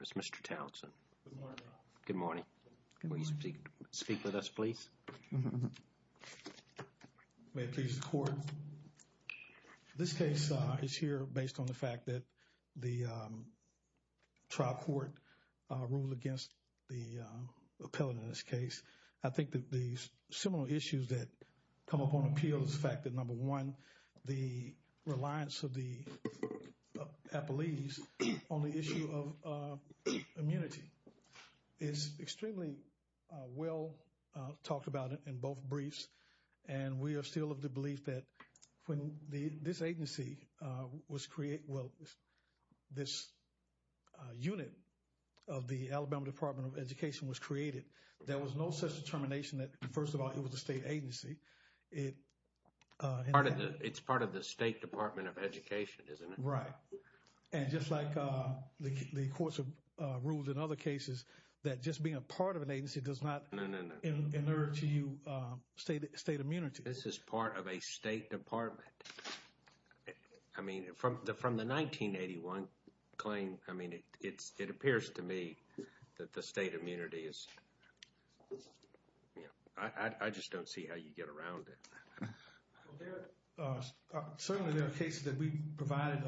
It's Mr. Townsend. Good morning. Good morning. Will you speak speak with us, please? May it please the court. This case is here based on the fact that the trial court ruled against the appellant in this case. I think that the similar issues that come up on appeal is the number one, the reliance of the appellees on the issue of immunity is extremely well talked about in both briefs. And we are still of the belief that when this agency was created, well, this unit of the Alabama Department of Education was created, there was no such determination that first of all, it was a state agency. It's part of the State Department of Education, isn't it? Right. And just like the courts have ruled in other cases that just being a part of an agency does not inert to you state immunity. This is part of a state department. I mean, from the 1981 claim, I mean, it appears to me that the state immunity is I just don't see how you get around it. Certainly, there are cases that we provided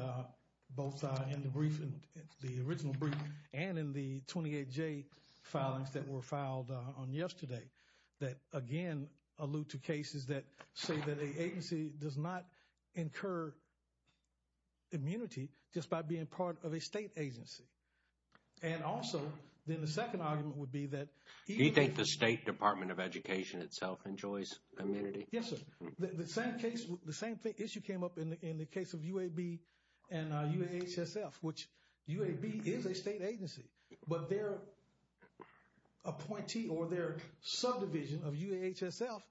both in the original brief and in the 28J filings that were filed on yesterday that, again, allude to cases that say that an agency does not incur immunity just by being part of a state agency. And also, then the second argument would Do you think the State Department of Education itself enjoys immunity? Yes, sir. The same issue came up in the case of UAB and UAHSF, which UAB is a state agency, but their appointee or their subdivision of UAHSF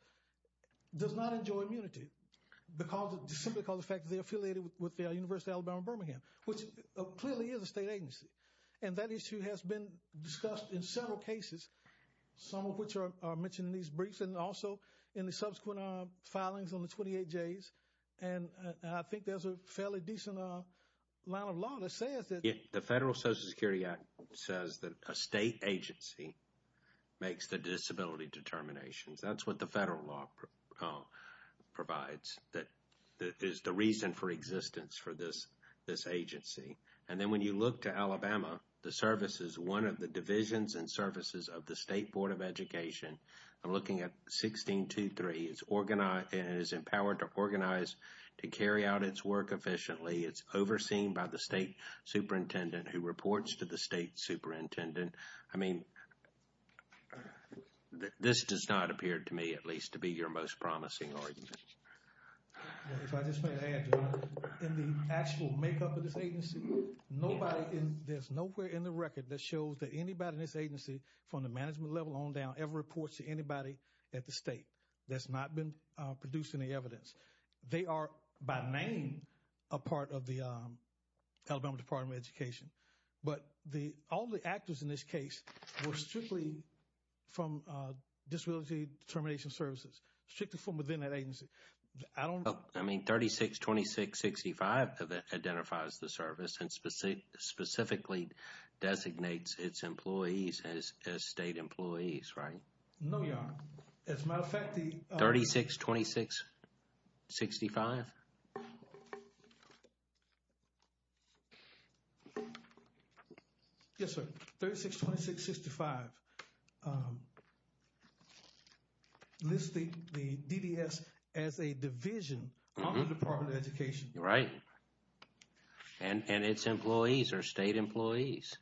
does not enjoy immunity simply because of the fact that they're affiliated with the University of Alabama-Birmingham, which clearly is a state Some of which are mentioned in these briefs and also in the subsequent filings on the 28Js. And I think there's a fairly decent line of law that says that The Federal Social Security Act says that a state agency makes the disability determinations. That's what the federal law provides. That is the reason for existence for this agency. And then when you look to Alabama, the services, one of the divisions and services of the State Board of Education, I'm looking at 1623, it's organized and is empowered to organize to carry out its work efficiently. It's overseen by the state superintendent who reports to the state superintendent. I mean, this does not appear to me at least to be your most promising argument. If I just may add, in the actual makeup of this agency, nobody, there's nowhere in the record that shows that anybody in this agency from the management level on down ever reports to anybody at the state. That's not been produced any evidence. They are by name a part of the Alabama Department of Education. But all the actors in this case were strictly from disability determination services, strictly from within that agency. I don't know. I mean, 362665 identifies the service and specifically designates its employees as state employees, right? No, Your Honor. As a matter of fact, the 362665? Yes, sir. 362665. Lists the DDS as a division of the Department of Education. Right. And its employees are state employees.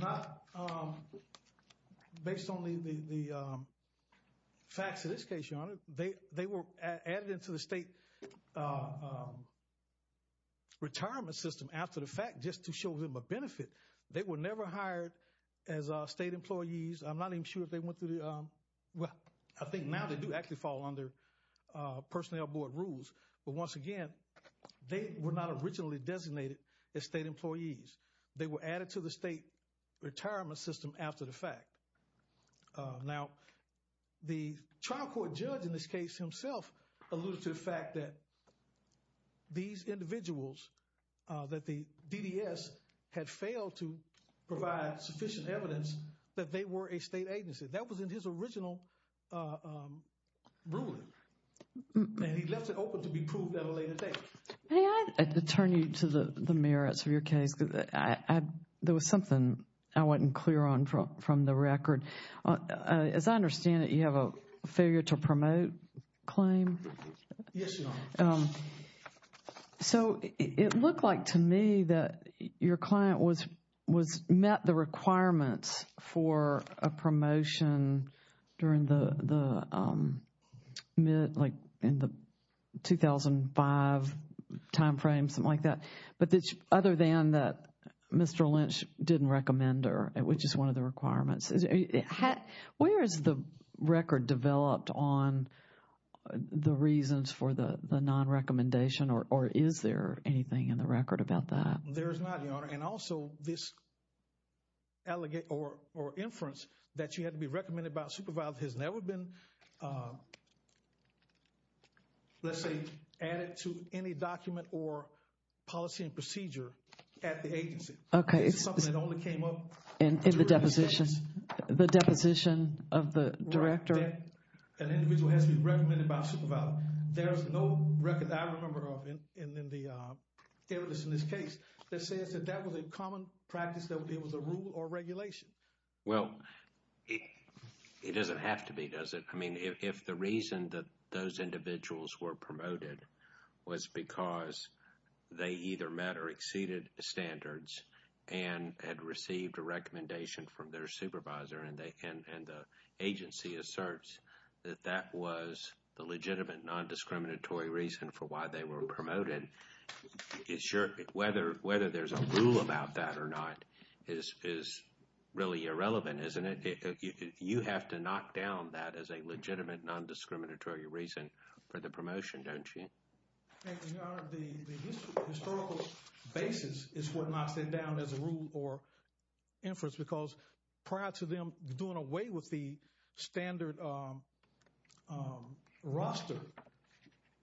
Not based on the facts of this case, Your Honor. They were added into the state retirement system after the fact just to show them a benefit. They were never hired as state I think now they do actually fall under personnel board rules. But once again, they were not originally designated as state employees. They were added to the state retirement system after the fact. Now, the trial court judge in this case himself alluded to the fact that these individuals, that the DDS had failed to provide sufficient evidence that they were a state agency. That was in his original ruling. And he left it open to be proved at a later date. May I turn you to the merits of your case? There was something I wasn't clear on from the record. As I understand it, you have a So it looked like to me that your client met the requirements for a promotion during the mid, like in the 2005 time frame, something like that. But other than that, Mr. Lynch didn't recommend her, which is one of the requirements. Where is the record developed on the reasons for the non-recommendation or is there anything in the record about that? There is not, Your Honor. And also this allegation or inference that you had to be recommended by a supervisor has never been let's say added to any document or policy and procedure at the agency. Okay. This is something that only came up In the deposition, the deposition of the director. An individual has to be recommended by a supervisor. There's no record that I remember of in the evidence in this case that says that that was a common practice that it was a rule or regulation. Well, it doesn't have to be, does it? I mean, if the reason that those individuals were promoted was because they either met or exceeded standards and had received a recommendation from their supervisor and the agency asserts that that was the legitimate non-discriminatory reason for why they were promoted, whether there's a rule about that or not is really irrelevant, isn't it? You have to knock down that as a legitimate non-discriminatory reason for the promotion, don't you? Thank you, Your Honor. The historical basis is what knocks it down as a rule or inference because prior to them doing away with the standard roster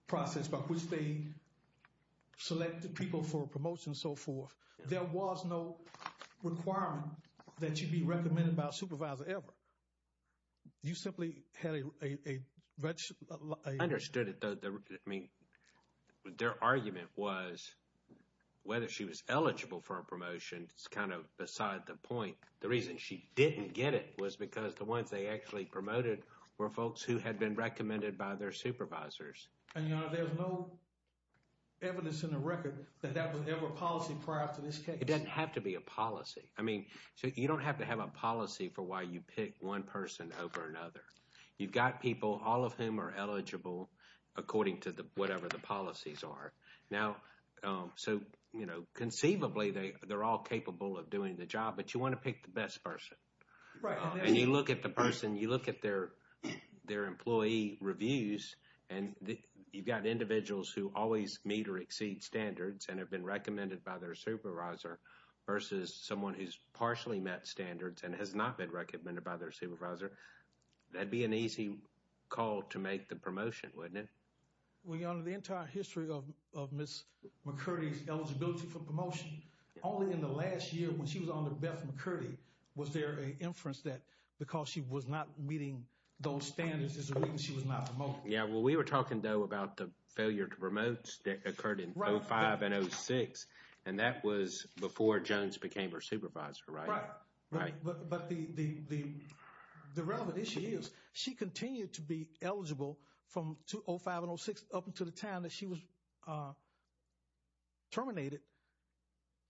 process by which they selected people for promotion and so forth, there was no requirement that you'd be recommended by a supervisor ever. You simply had a register. Understood it. I mean, their argument was whether she was eligible for a promotion. It's kind of beside the point. The reason she didn't get it was because the ones they actually promoted were folks who had been recommended by their supervisors. And, Your Honor, there's no evidence in the record that that was ever policy prior to this case. It doesn't have to be a policy. I mean, you don't have to have a policy for why you pick one person over another. You've got people, all of whom are eligible according to whatever the job, but you want to pick the best person. Right. And you look at the person, you look at their employee reviews, and you've got individuals who always meet or exceed standards and have been recommended by their supervisor versus someone who's partially met standards and has not been recommended by their supervisor. That'd be an easy call to make the promotion, wouldn't it? Well, Your Honor, the entire history of Ms. McCurdy's eligibility for promotion, only in the last year when she was under Beth McCurdy was there an inference that because she was not meeting those standards is the reason she was not promoted. Yeah. Well, we were talking, though, about the failure to promote that occurred in 2005 and 2006, and that was before Jones became her supervisor, right? Right. But the relevant issue is she continued to be eligible from 2005 and 2006 up until the time she was terminated,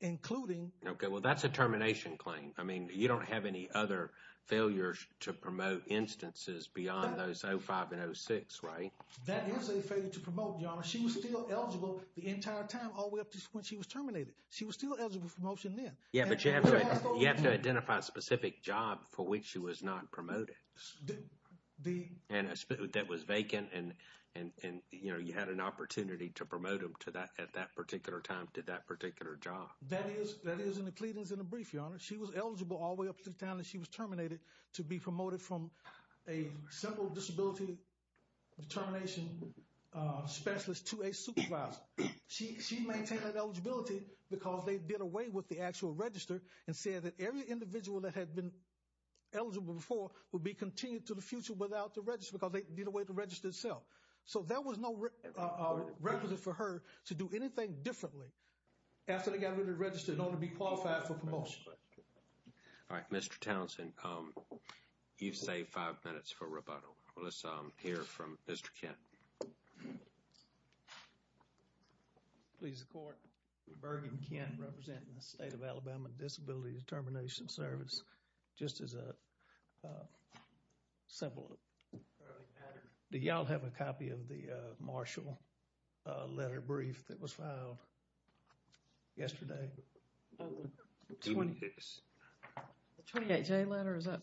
including... Okay. Well, that's a termination claim. I mean, you don't have any other failures to promote instances beyond those 2005 and 2006, right? That is a failure to promote, Your Honor. She was still eligible the entire time all the way up to when she was terminated. She was still eligible for promotion then. Yeah, but you have to identify a specific job for which she was not promoted and that was vacant and, you know, you had an opportunity to promote them to that at that particular time to that particular job. That is in the pleadings in the brief, Your Honor. She was eligible all the way up to the time that she was terminated to be promoted from a simple disability determination specialist to a supervisor. She maintained that eligibility because they did away with the actual register and said that every individual that had been before would be continued to the future without the register because they did away with the register itself. So, there was no requisite for her to do anything differently after they got rid of the register in order to be qualified for promotion. All right. Mr. Townsend, you've saved five minutes for rebuttal. Let's hear from Mr. Kent. Please, the Court. Bergen Kent, representing the State of Alabama Disability Determination Service, just as a simple, do y'all have a copy of the Marshall letter brief that was filed yesterday? The 28J letter, is that?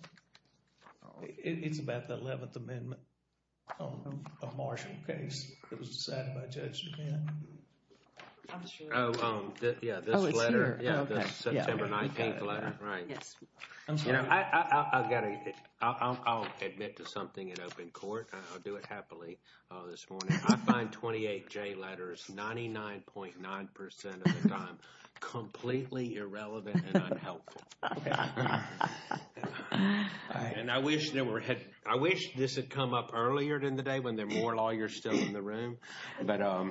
It's about the 11th Amendment on a Marshall case that was decided by Judge Kent. Oh, yeah, this letter. Oh, it's here. Yeah, the September 19th letter, right. I'll admit to something in open court. I'll do it happily this morning. I find 28J letters 99.9% of the time completely irrelevant and unhelpful. And I wish this had come up earlier in the day when there were more lawyers still in the room. I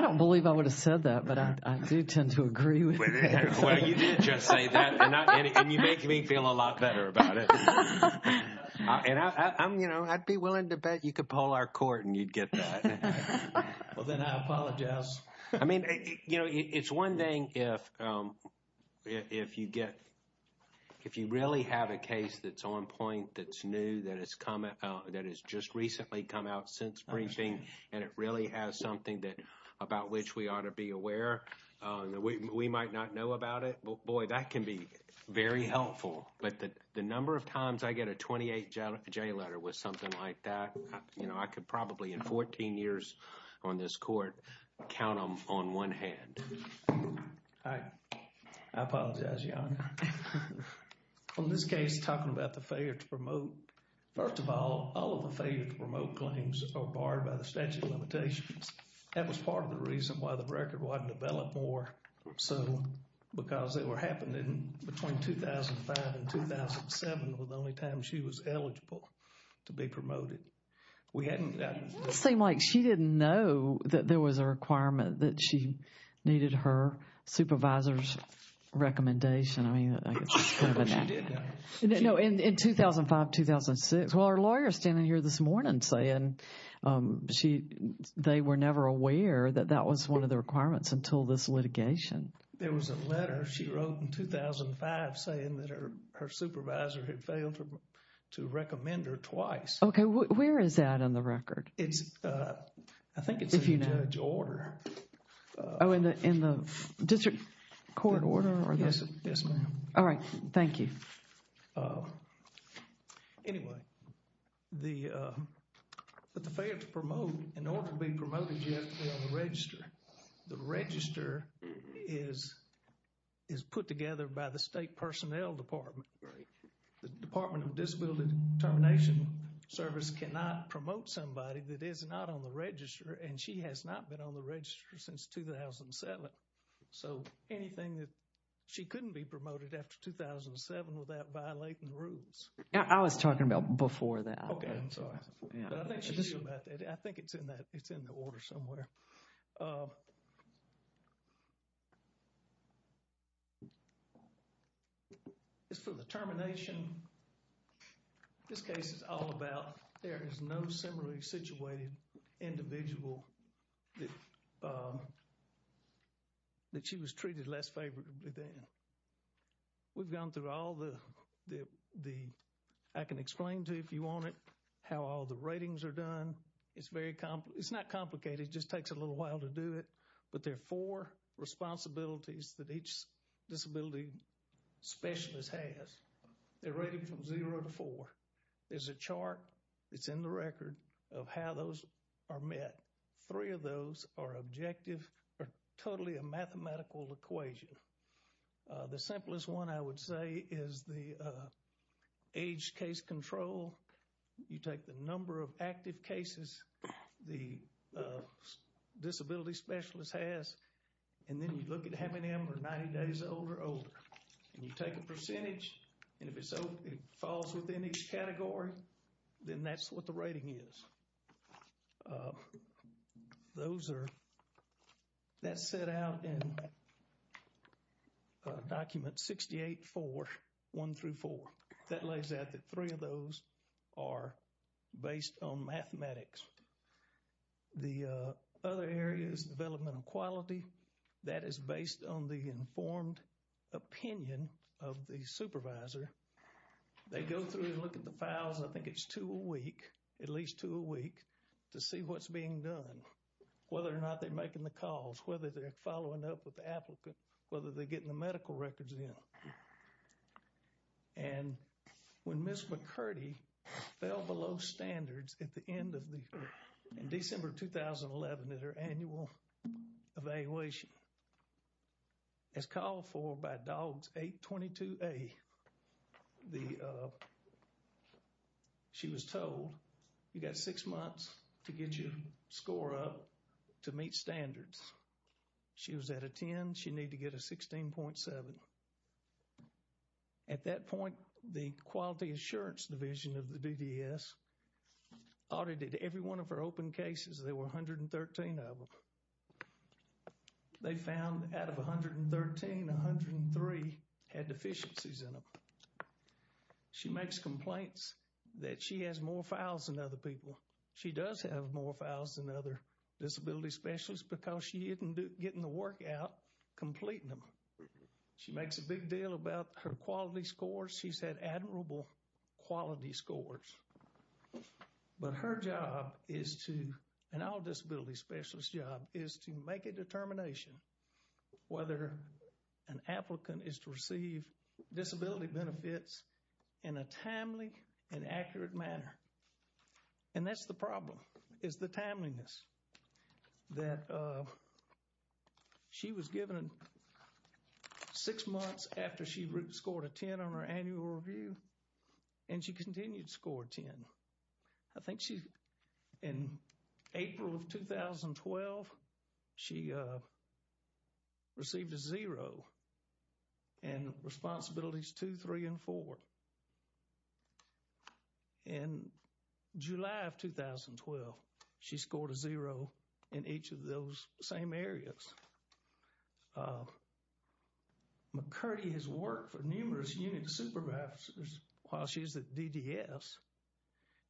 don't believe I would have said that, but I do tend to agree with it. Well, you did just say that, and you make me feel a lot better about it. And I'm, you know, I'd be willing to bet you could poll our court and you'd get that. Well, then I apologize. I mean, you know, it's one thing if you get, if you really have a case that's on point, that's new, that has come, that has just recently come out since briefing, and it really has something that, about which we ought to be aware. We might not know about it, but boy, that can be very helpful. But the number of times I get a 28J letter with something like that, you know, I could probably, in 14 years on this court, count them on one hand. I apologize, Your Honor. On this case, talking about the failure to promote, first of all, all of the failure to promote claims are barred by the statute of limitations. That was part of the reason why the record wasn't developed more. So, because they were happening between 2005 and 2007 was the only time she was eligible to be promoted. We hadn't gotten... It seemed like she didn't know that there was a requirement that she needed her supervisor's recommendation. I mean, I guess that's kind of a... But she did know. No, in 2005, 2006. Well, our lawyer's standing here this morning saying she, they were never aware that that was one of the requirements until this litigation. There was a letter she wrote in 2005 saying that her supervisor had failed to recommend her twice. Okay. Where is that in the record? It's, I think it's in the judge order. Oh, in the district court order? Yes, ma'am. All right. Thank you. Anyway, the failure to promote, in order to be promoted, you have to be on the register. The register is put together by the state personnel department. The Department of Disability Determination Service cannot promote somebody that is not on the register and she has not been on the register since 2007. So, anything that she couldn't be promoted after 2007 without violating the rules. Yeah, I was talking about before that. Okay, I'm sorry. I think it's in that, it's in the order somewhere. It's for the termination. This case is all about there is no similarly situated individual that she was treated less favorably then. We've gone through all the, I can explain to you if you want it, how all the ratings are done. It's very, it's not complicated. It just takes a little while to do it. But there are four responsibilities that each disability specialist has. They're rated from zero to four. There's a chart that's in the record of how those are met. Three of those are objective or totally a mathematical equation. The simplest one I would say is the age case control. You take the number of active cases the disability specialist has and then you look at having them or 90 days old or older. And you take a percentage and if it falls within each category, then that's what the rating is. Those are, that's set out in document 68-4, one through four. That lays out that three of those are based on mathematics. The other area is developmental quality. That is based on the informed opinion of the supervisor. They go through and look at the files. I think it's two a week, at least two a week, to see what's being done. Whether or not they're making the calls, whether they're following up with the applicant, whether they're getting the medical records in. And when Ms. McCurdy fell below standards at the end of the, in December 2011 at her annual evaluation, as called for by DOGS 822A, the, she was told you got six months to get your score up to meet standards. She was at a 10, she needed to get a 16.7. At that point, the quality assurance division of the DDS audited every one of her open cases. There were 113 of them. They found out of 113, 103 had deficiencies in them. She makes complaints that she has more files than other people. She does have more files than other disability specialists because she isn't getting the work out completing them. She makes a big deal about her quality scores. She's had admirable quality scores. But her job is to, an all disability specialist job, is to make a determination whether an applicant is to receive disability benefits in a timely and accurate manner. And that's the problem, is the timeliness. That she was given six months after she scored a 10 on her annual review and she continued to score a 10. I think she, in April of 2012, she received a zero and responsibilities two, three, and four. In July of 2012, she scored a zero in each of those same areas. McCurdy has worked for numerous unit supervisors while she's at DDS.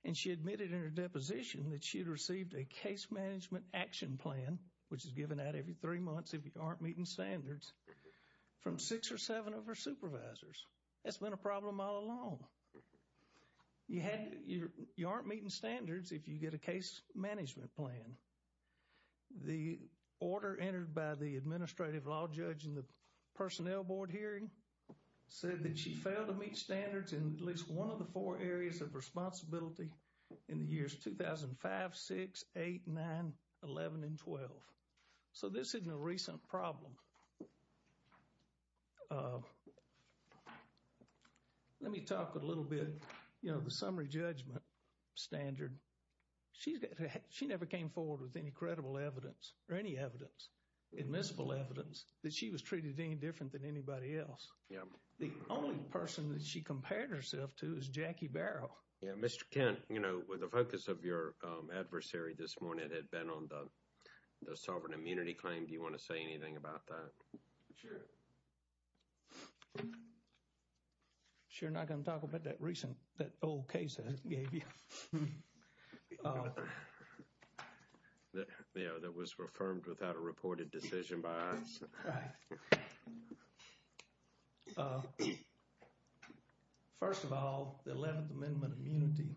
And she admitted in her deposition that she'd received a case management action plan, which is given out every three months if you aren't meeting standards, from six or seven of her supervisors. That's been a problem all along. You had, you aren't meeting standards if you get a case management plan. The order entered by the administrative law judge in the personnel board hearing said that she failed to meet standards in at least one of the four areas of responsibility. In the years 2005, 6, 8, 9, 11, and 12. So this isn't a recent problem. Let me talk a little bit, you know, the summary judgment standard. She's got, she never came forward with any credible evidence or any evidence, admissible evidence, that she was treated any different than anybody else. Yeah. The only person that she compared herself to is Jackie Barrow. Yeah. Mr. Kent, you know, with the focus of your adversary this morning, it had been on the sovereign immunity claim. Do you want to say anything about that? Sure. Sure, not going to talk about that recent, that old case that it gave you. Yeah, that was reaffirmed without a reported decision by us. All right. First of all, the 11th Amendment immunity,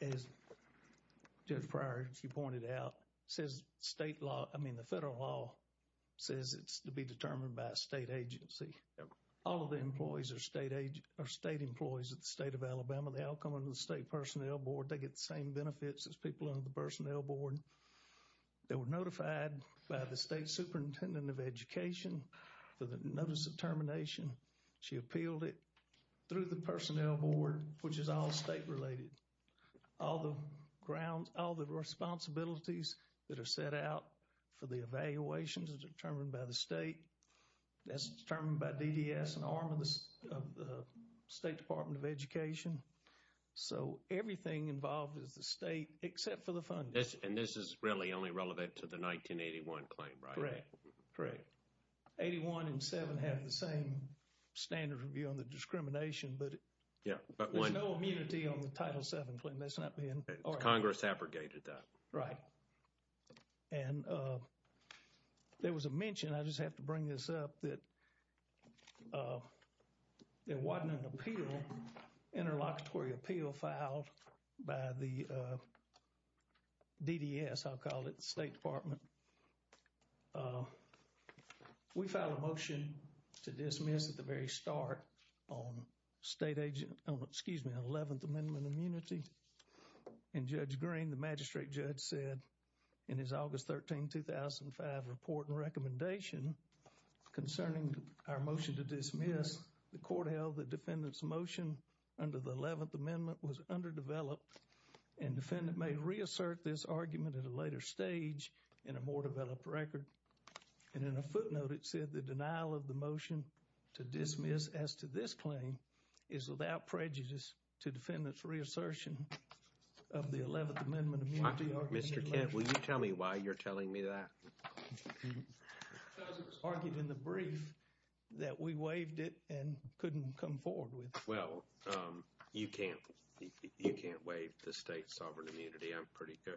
as Judge Pryor, you pointed out, says state law, I mean the federal law, says it's to be determined by a state agency. All of the employees are state age, or state employees at the state of Alabama. They all come under the state personnel board. They get the same benefits as people under the personnel board. They were notified by the state superintendent of education for the notice of termination. She appealed it through the personnel board, which is all state related. All the grounds, all the responsibilities that are set out for the evaluations are determined by the state. That's determined by DDS, an arm of the state department of education. So, everything involved is the state, except for the funding. And this is really only relevant to the 1981 claim, right? Correct, correct. 81 and 7 have the same standard of view on the discrimination, but there's no immunity on the Title VII claim. That's not being... Congress abrogated that. Right. And there was a mention, I just have to bring this up, that there wasn't an appeal, interlocutory appeal filed by the DDS, I'll call it, state department. We filed a motion to dismiss at the very start on state agent, excuse me, 11th Amendment immunity. And Judge Green, the magistrate judge said in his August 13, 2005 report and recommendation concerning our motion to dismiss, the court held the defendant's motion under the 11th Amendment was underdeveloped. And defendant may reassert this argument at a later stage in a more developed record. And in a footnote, it said the denial of the motion to dismiss as to this claim is without prejudice to defendant's reassertion of the 11th Amendment immunity argument. Mr. Kent, will you tell me why you're telling me that? Because it was argued in the brief that we waived it and couldn't come forward with it. Well, you can't, you can't waive the state sovereign immunity. I'm pretty sure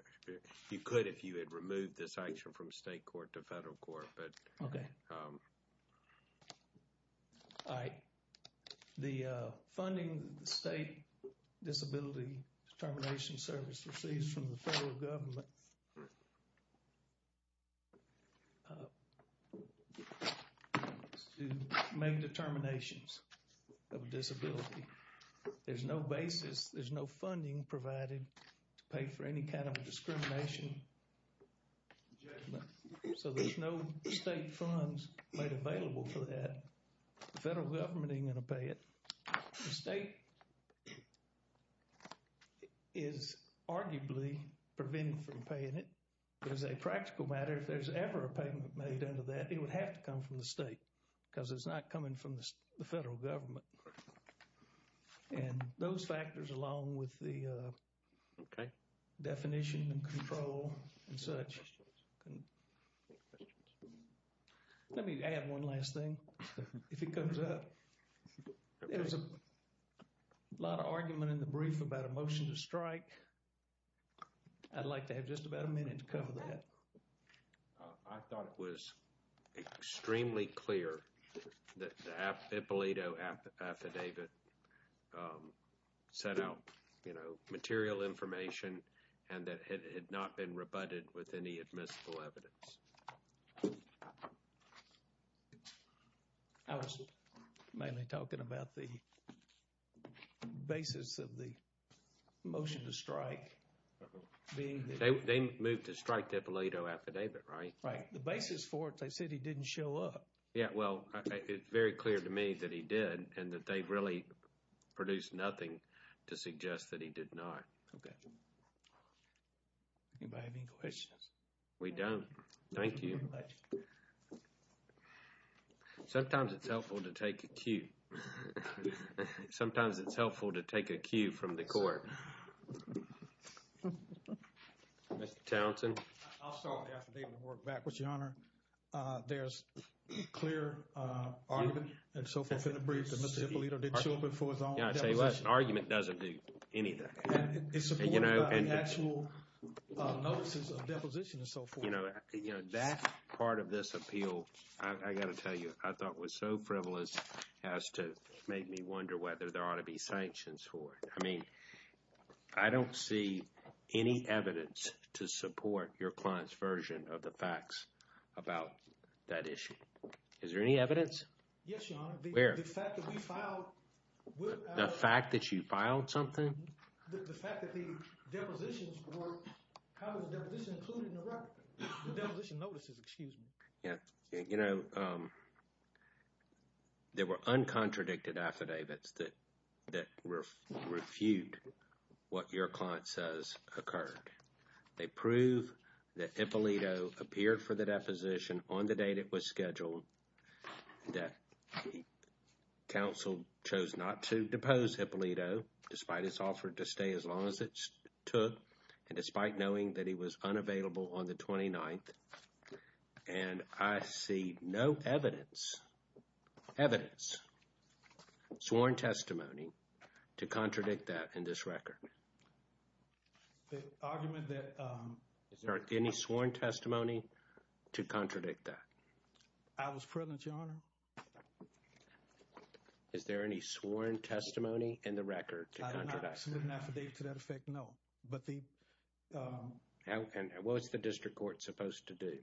you could if you had removed this action from state court to federal court, but... Okay. All right. The funding the state disability determination service receives from the federal government... ...is to make determinations of disability. There's no basis, there's no funding provided to pay for any kind of discrimination. So there's no state funds made available for that. The federal government ain't gonna pay it. The state is arguably preventing from paying it. As a practical matter, if there's ever a payment made under that, it would have to come from the state because it's not coming from the federal government. And those factors along with the... Okay. ...definition and control and such. Let me add one last thing. If it comes up, there's a lot of argument in the brief about a motion to strike. I'd like to have just about a minute to cover that. I thought it was extremely clear that the Apollito affidavit sent out, you know, material information and that it had not been rebutted with any admissible evidence. I was mainly talking about the basis of the motion to strike. They moved to strike the Apollito affidavit, right? Right. The basis for it, they said he didn't show up. Yeah, well, it's very clear to me that he did and that they really produced nothing to suggest that he did not. Okay. Anybody have any questions? We don't. Thank you. Sometimes it's helpful to take a cue. Sometimes it's helpful to take a cue from the court. Mr. Townsend? I'll start with the affidavit and work back with you, Your Honor. There's clear argument and so forth in the brief that Mr. Apollito didn't show up for his own deposition. Yeah, I'll tell you what. The argument doesn't do anything. And it's supported by the actual notices of deposition and so forth. That part of this appeal, I got to tell you, I thought was so frivolous as to make me wonder whether there ought to be sanctions for it. I mean, I don't see any evidence to support your client's version of the facts about that issue. Is there any evidence? Yes, Your Honor. Where? The fact that we filed... The fact that you filed something? The fact that the depositions were... The deposition notices, excuse me. Yeah, you know, there were uncontradicted affidavits that refute what your client says occurred. They prove that Apollito appeared for the deposition on the date it was scheduled, that counsel chose not to depose Apollito despite his offer to stay as long as it took, and despite knowing that he was unavailable on the 29th. And I see no evidence, evidence, sworn testimony to contradict that in this record. The argument that... Is there any sworn testimony to contradict that? I was present, Your Honor. Is there any sworn testimony in the record to contradict that? I did not submit an affidavit to that effect, no. But the... What's the district court supposed to do?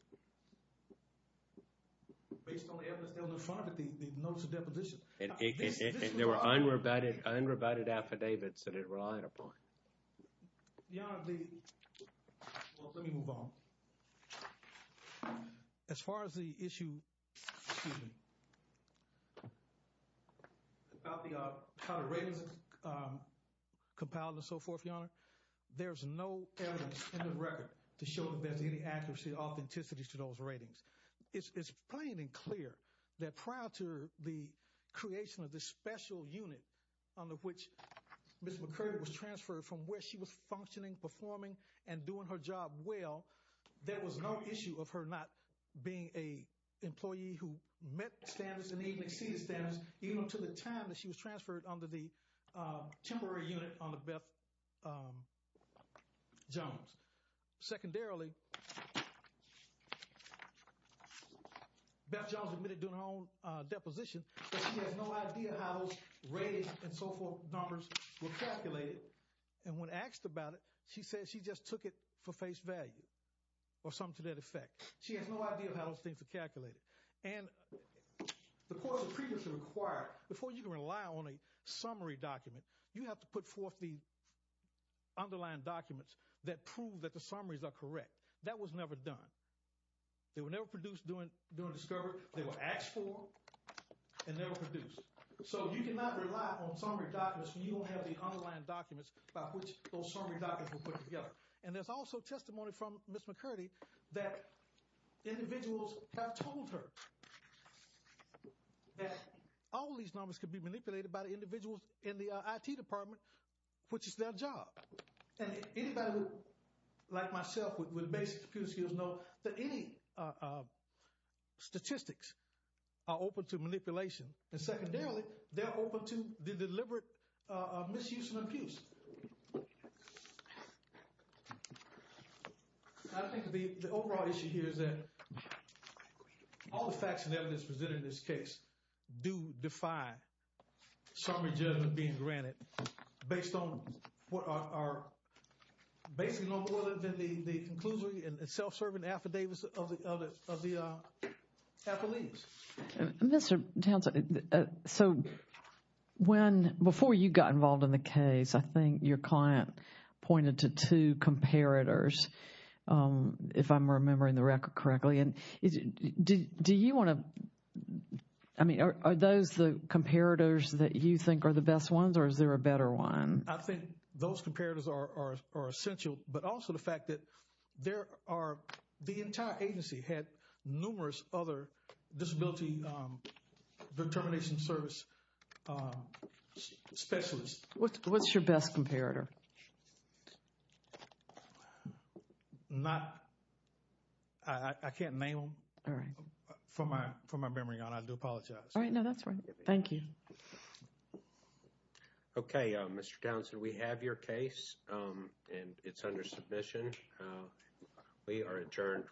Based on the evidence on the front of the notice of deposition. There were unrebutted affidavits that it relied upon. Your Honor, the... Well, let me move on. As far as the issue, excuse me, about the kind of ratings compiled and so forth, Your Honor, there's no evidence in the record to show that there's any accuracy, authenticity to those ratings. It's plain and clear that prior to the creation of this special unit under which Ms. McCurdy was transferred from where she was functioning, performing, and doing her job well, there was no issue of her not being an employee who met standards and even exceeded standards, even up to the time that she was transferred under the temporary unit under Beth Jones. Secondarily, Beth Jones admitted during her own deposition that she has no idea how those ratings and so forth numbers were calculated. And when asked about it, she said she just took it for face value. Or something to that effect. She has no idea how those things are calculated. And the courts have previously required, before you can rely on a summary document, you have to put forth the underlying documents that prove that the summaries are correct. That was never done. They were never produced during discovery. They were asked for and never produced. So you cannot rely on summary documents when you don't have the underlying documents by which those summary documents were put together. And there's also testimony from Ms. McCurdy that individuals have told her that all these numbers could be manipulated by the individuals in the IT department, which is their job. And anybody like myself with basic computer skills knows that any statistics are open to manipulation. And secondarily, they're open to the deliberate misuse and abuse. I think the overall issue here is that all the facts and evidence presented in this case do defy summary judgment being granted based on what are basically no more than the conclusory and self-serving affidavits of the affiliates. Mr. Townsend, so when, before you got involved in the case, I think your client pointed to two comparators, if I'm remembering the record correctly. And do you want to, I mean, are those the comparators that you think are the best ones or is there a better one? I think those comparators are essential, but also the fact that there are, the entire agency had numerous other disability determination service specialists. What's your best comparator? Not, I can't name them. All right. From my memory on, I do apologize. All right, no, that's fine. Thank you. Okay, Mr. Townsend, we have your case and it's under submission. We are adjourned for the week.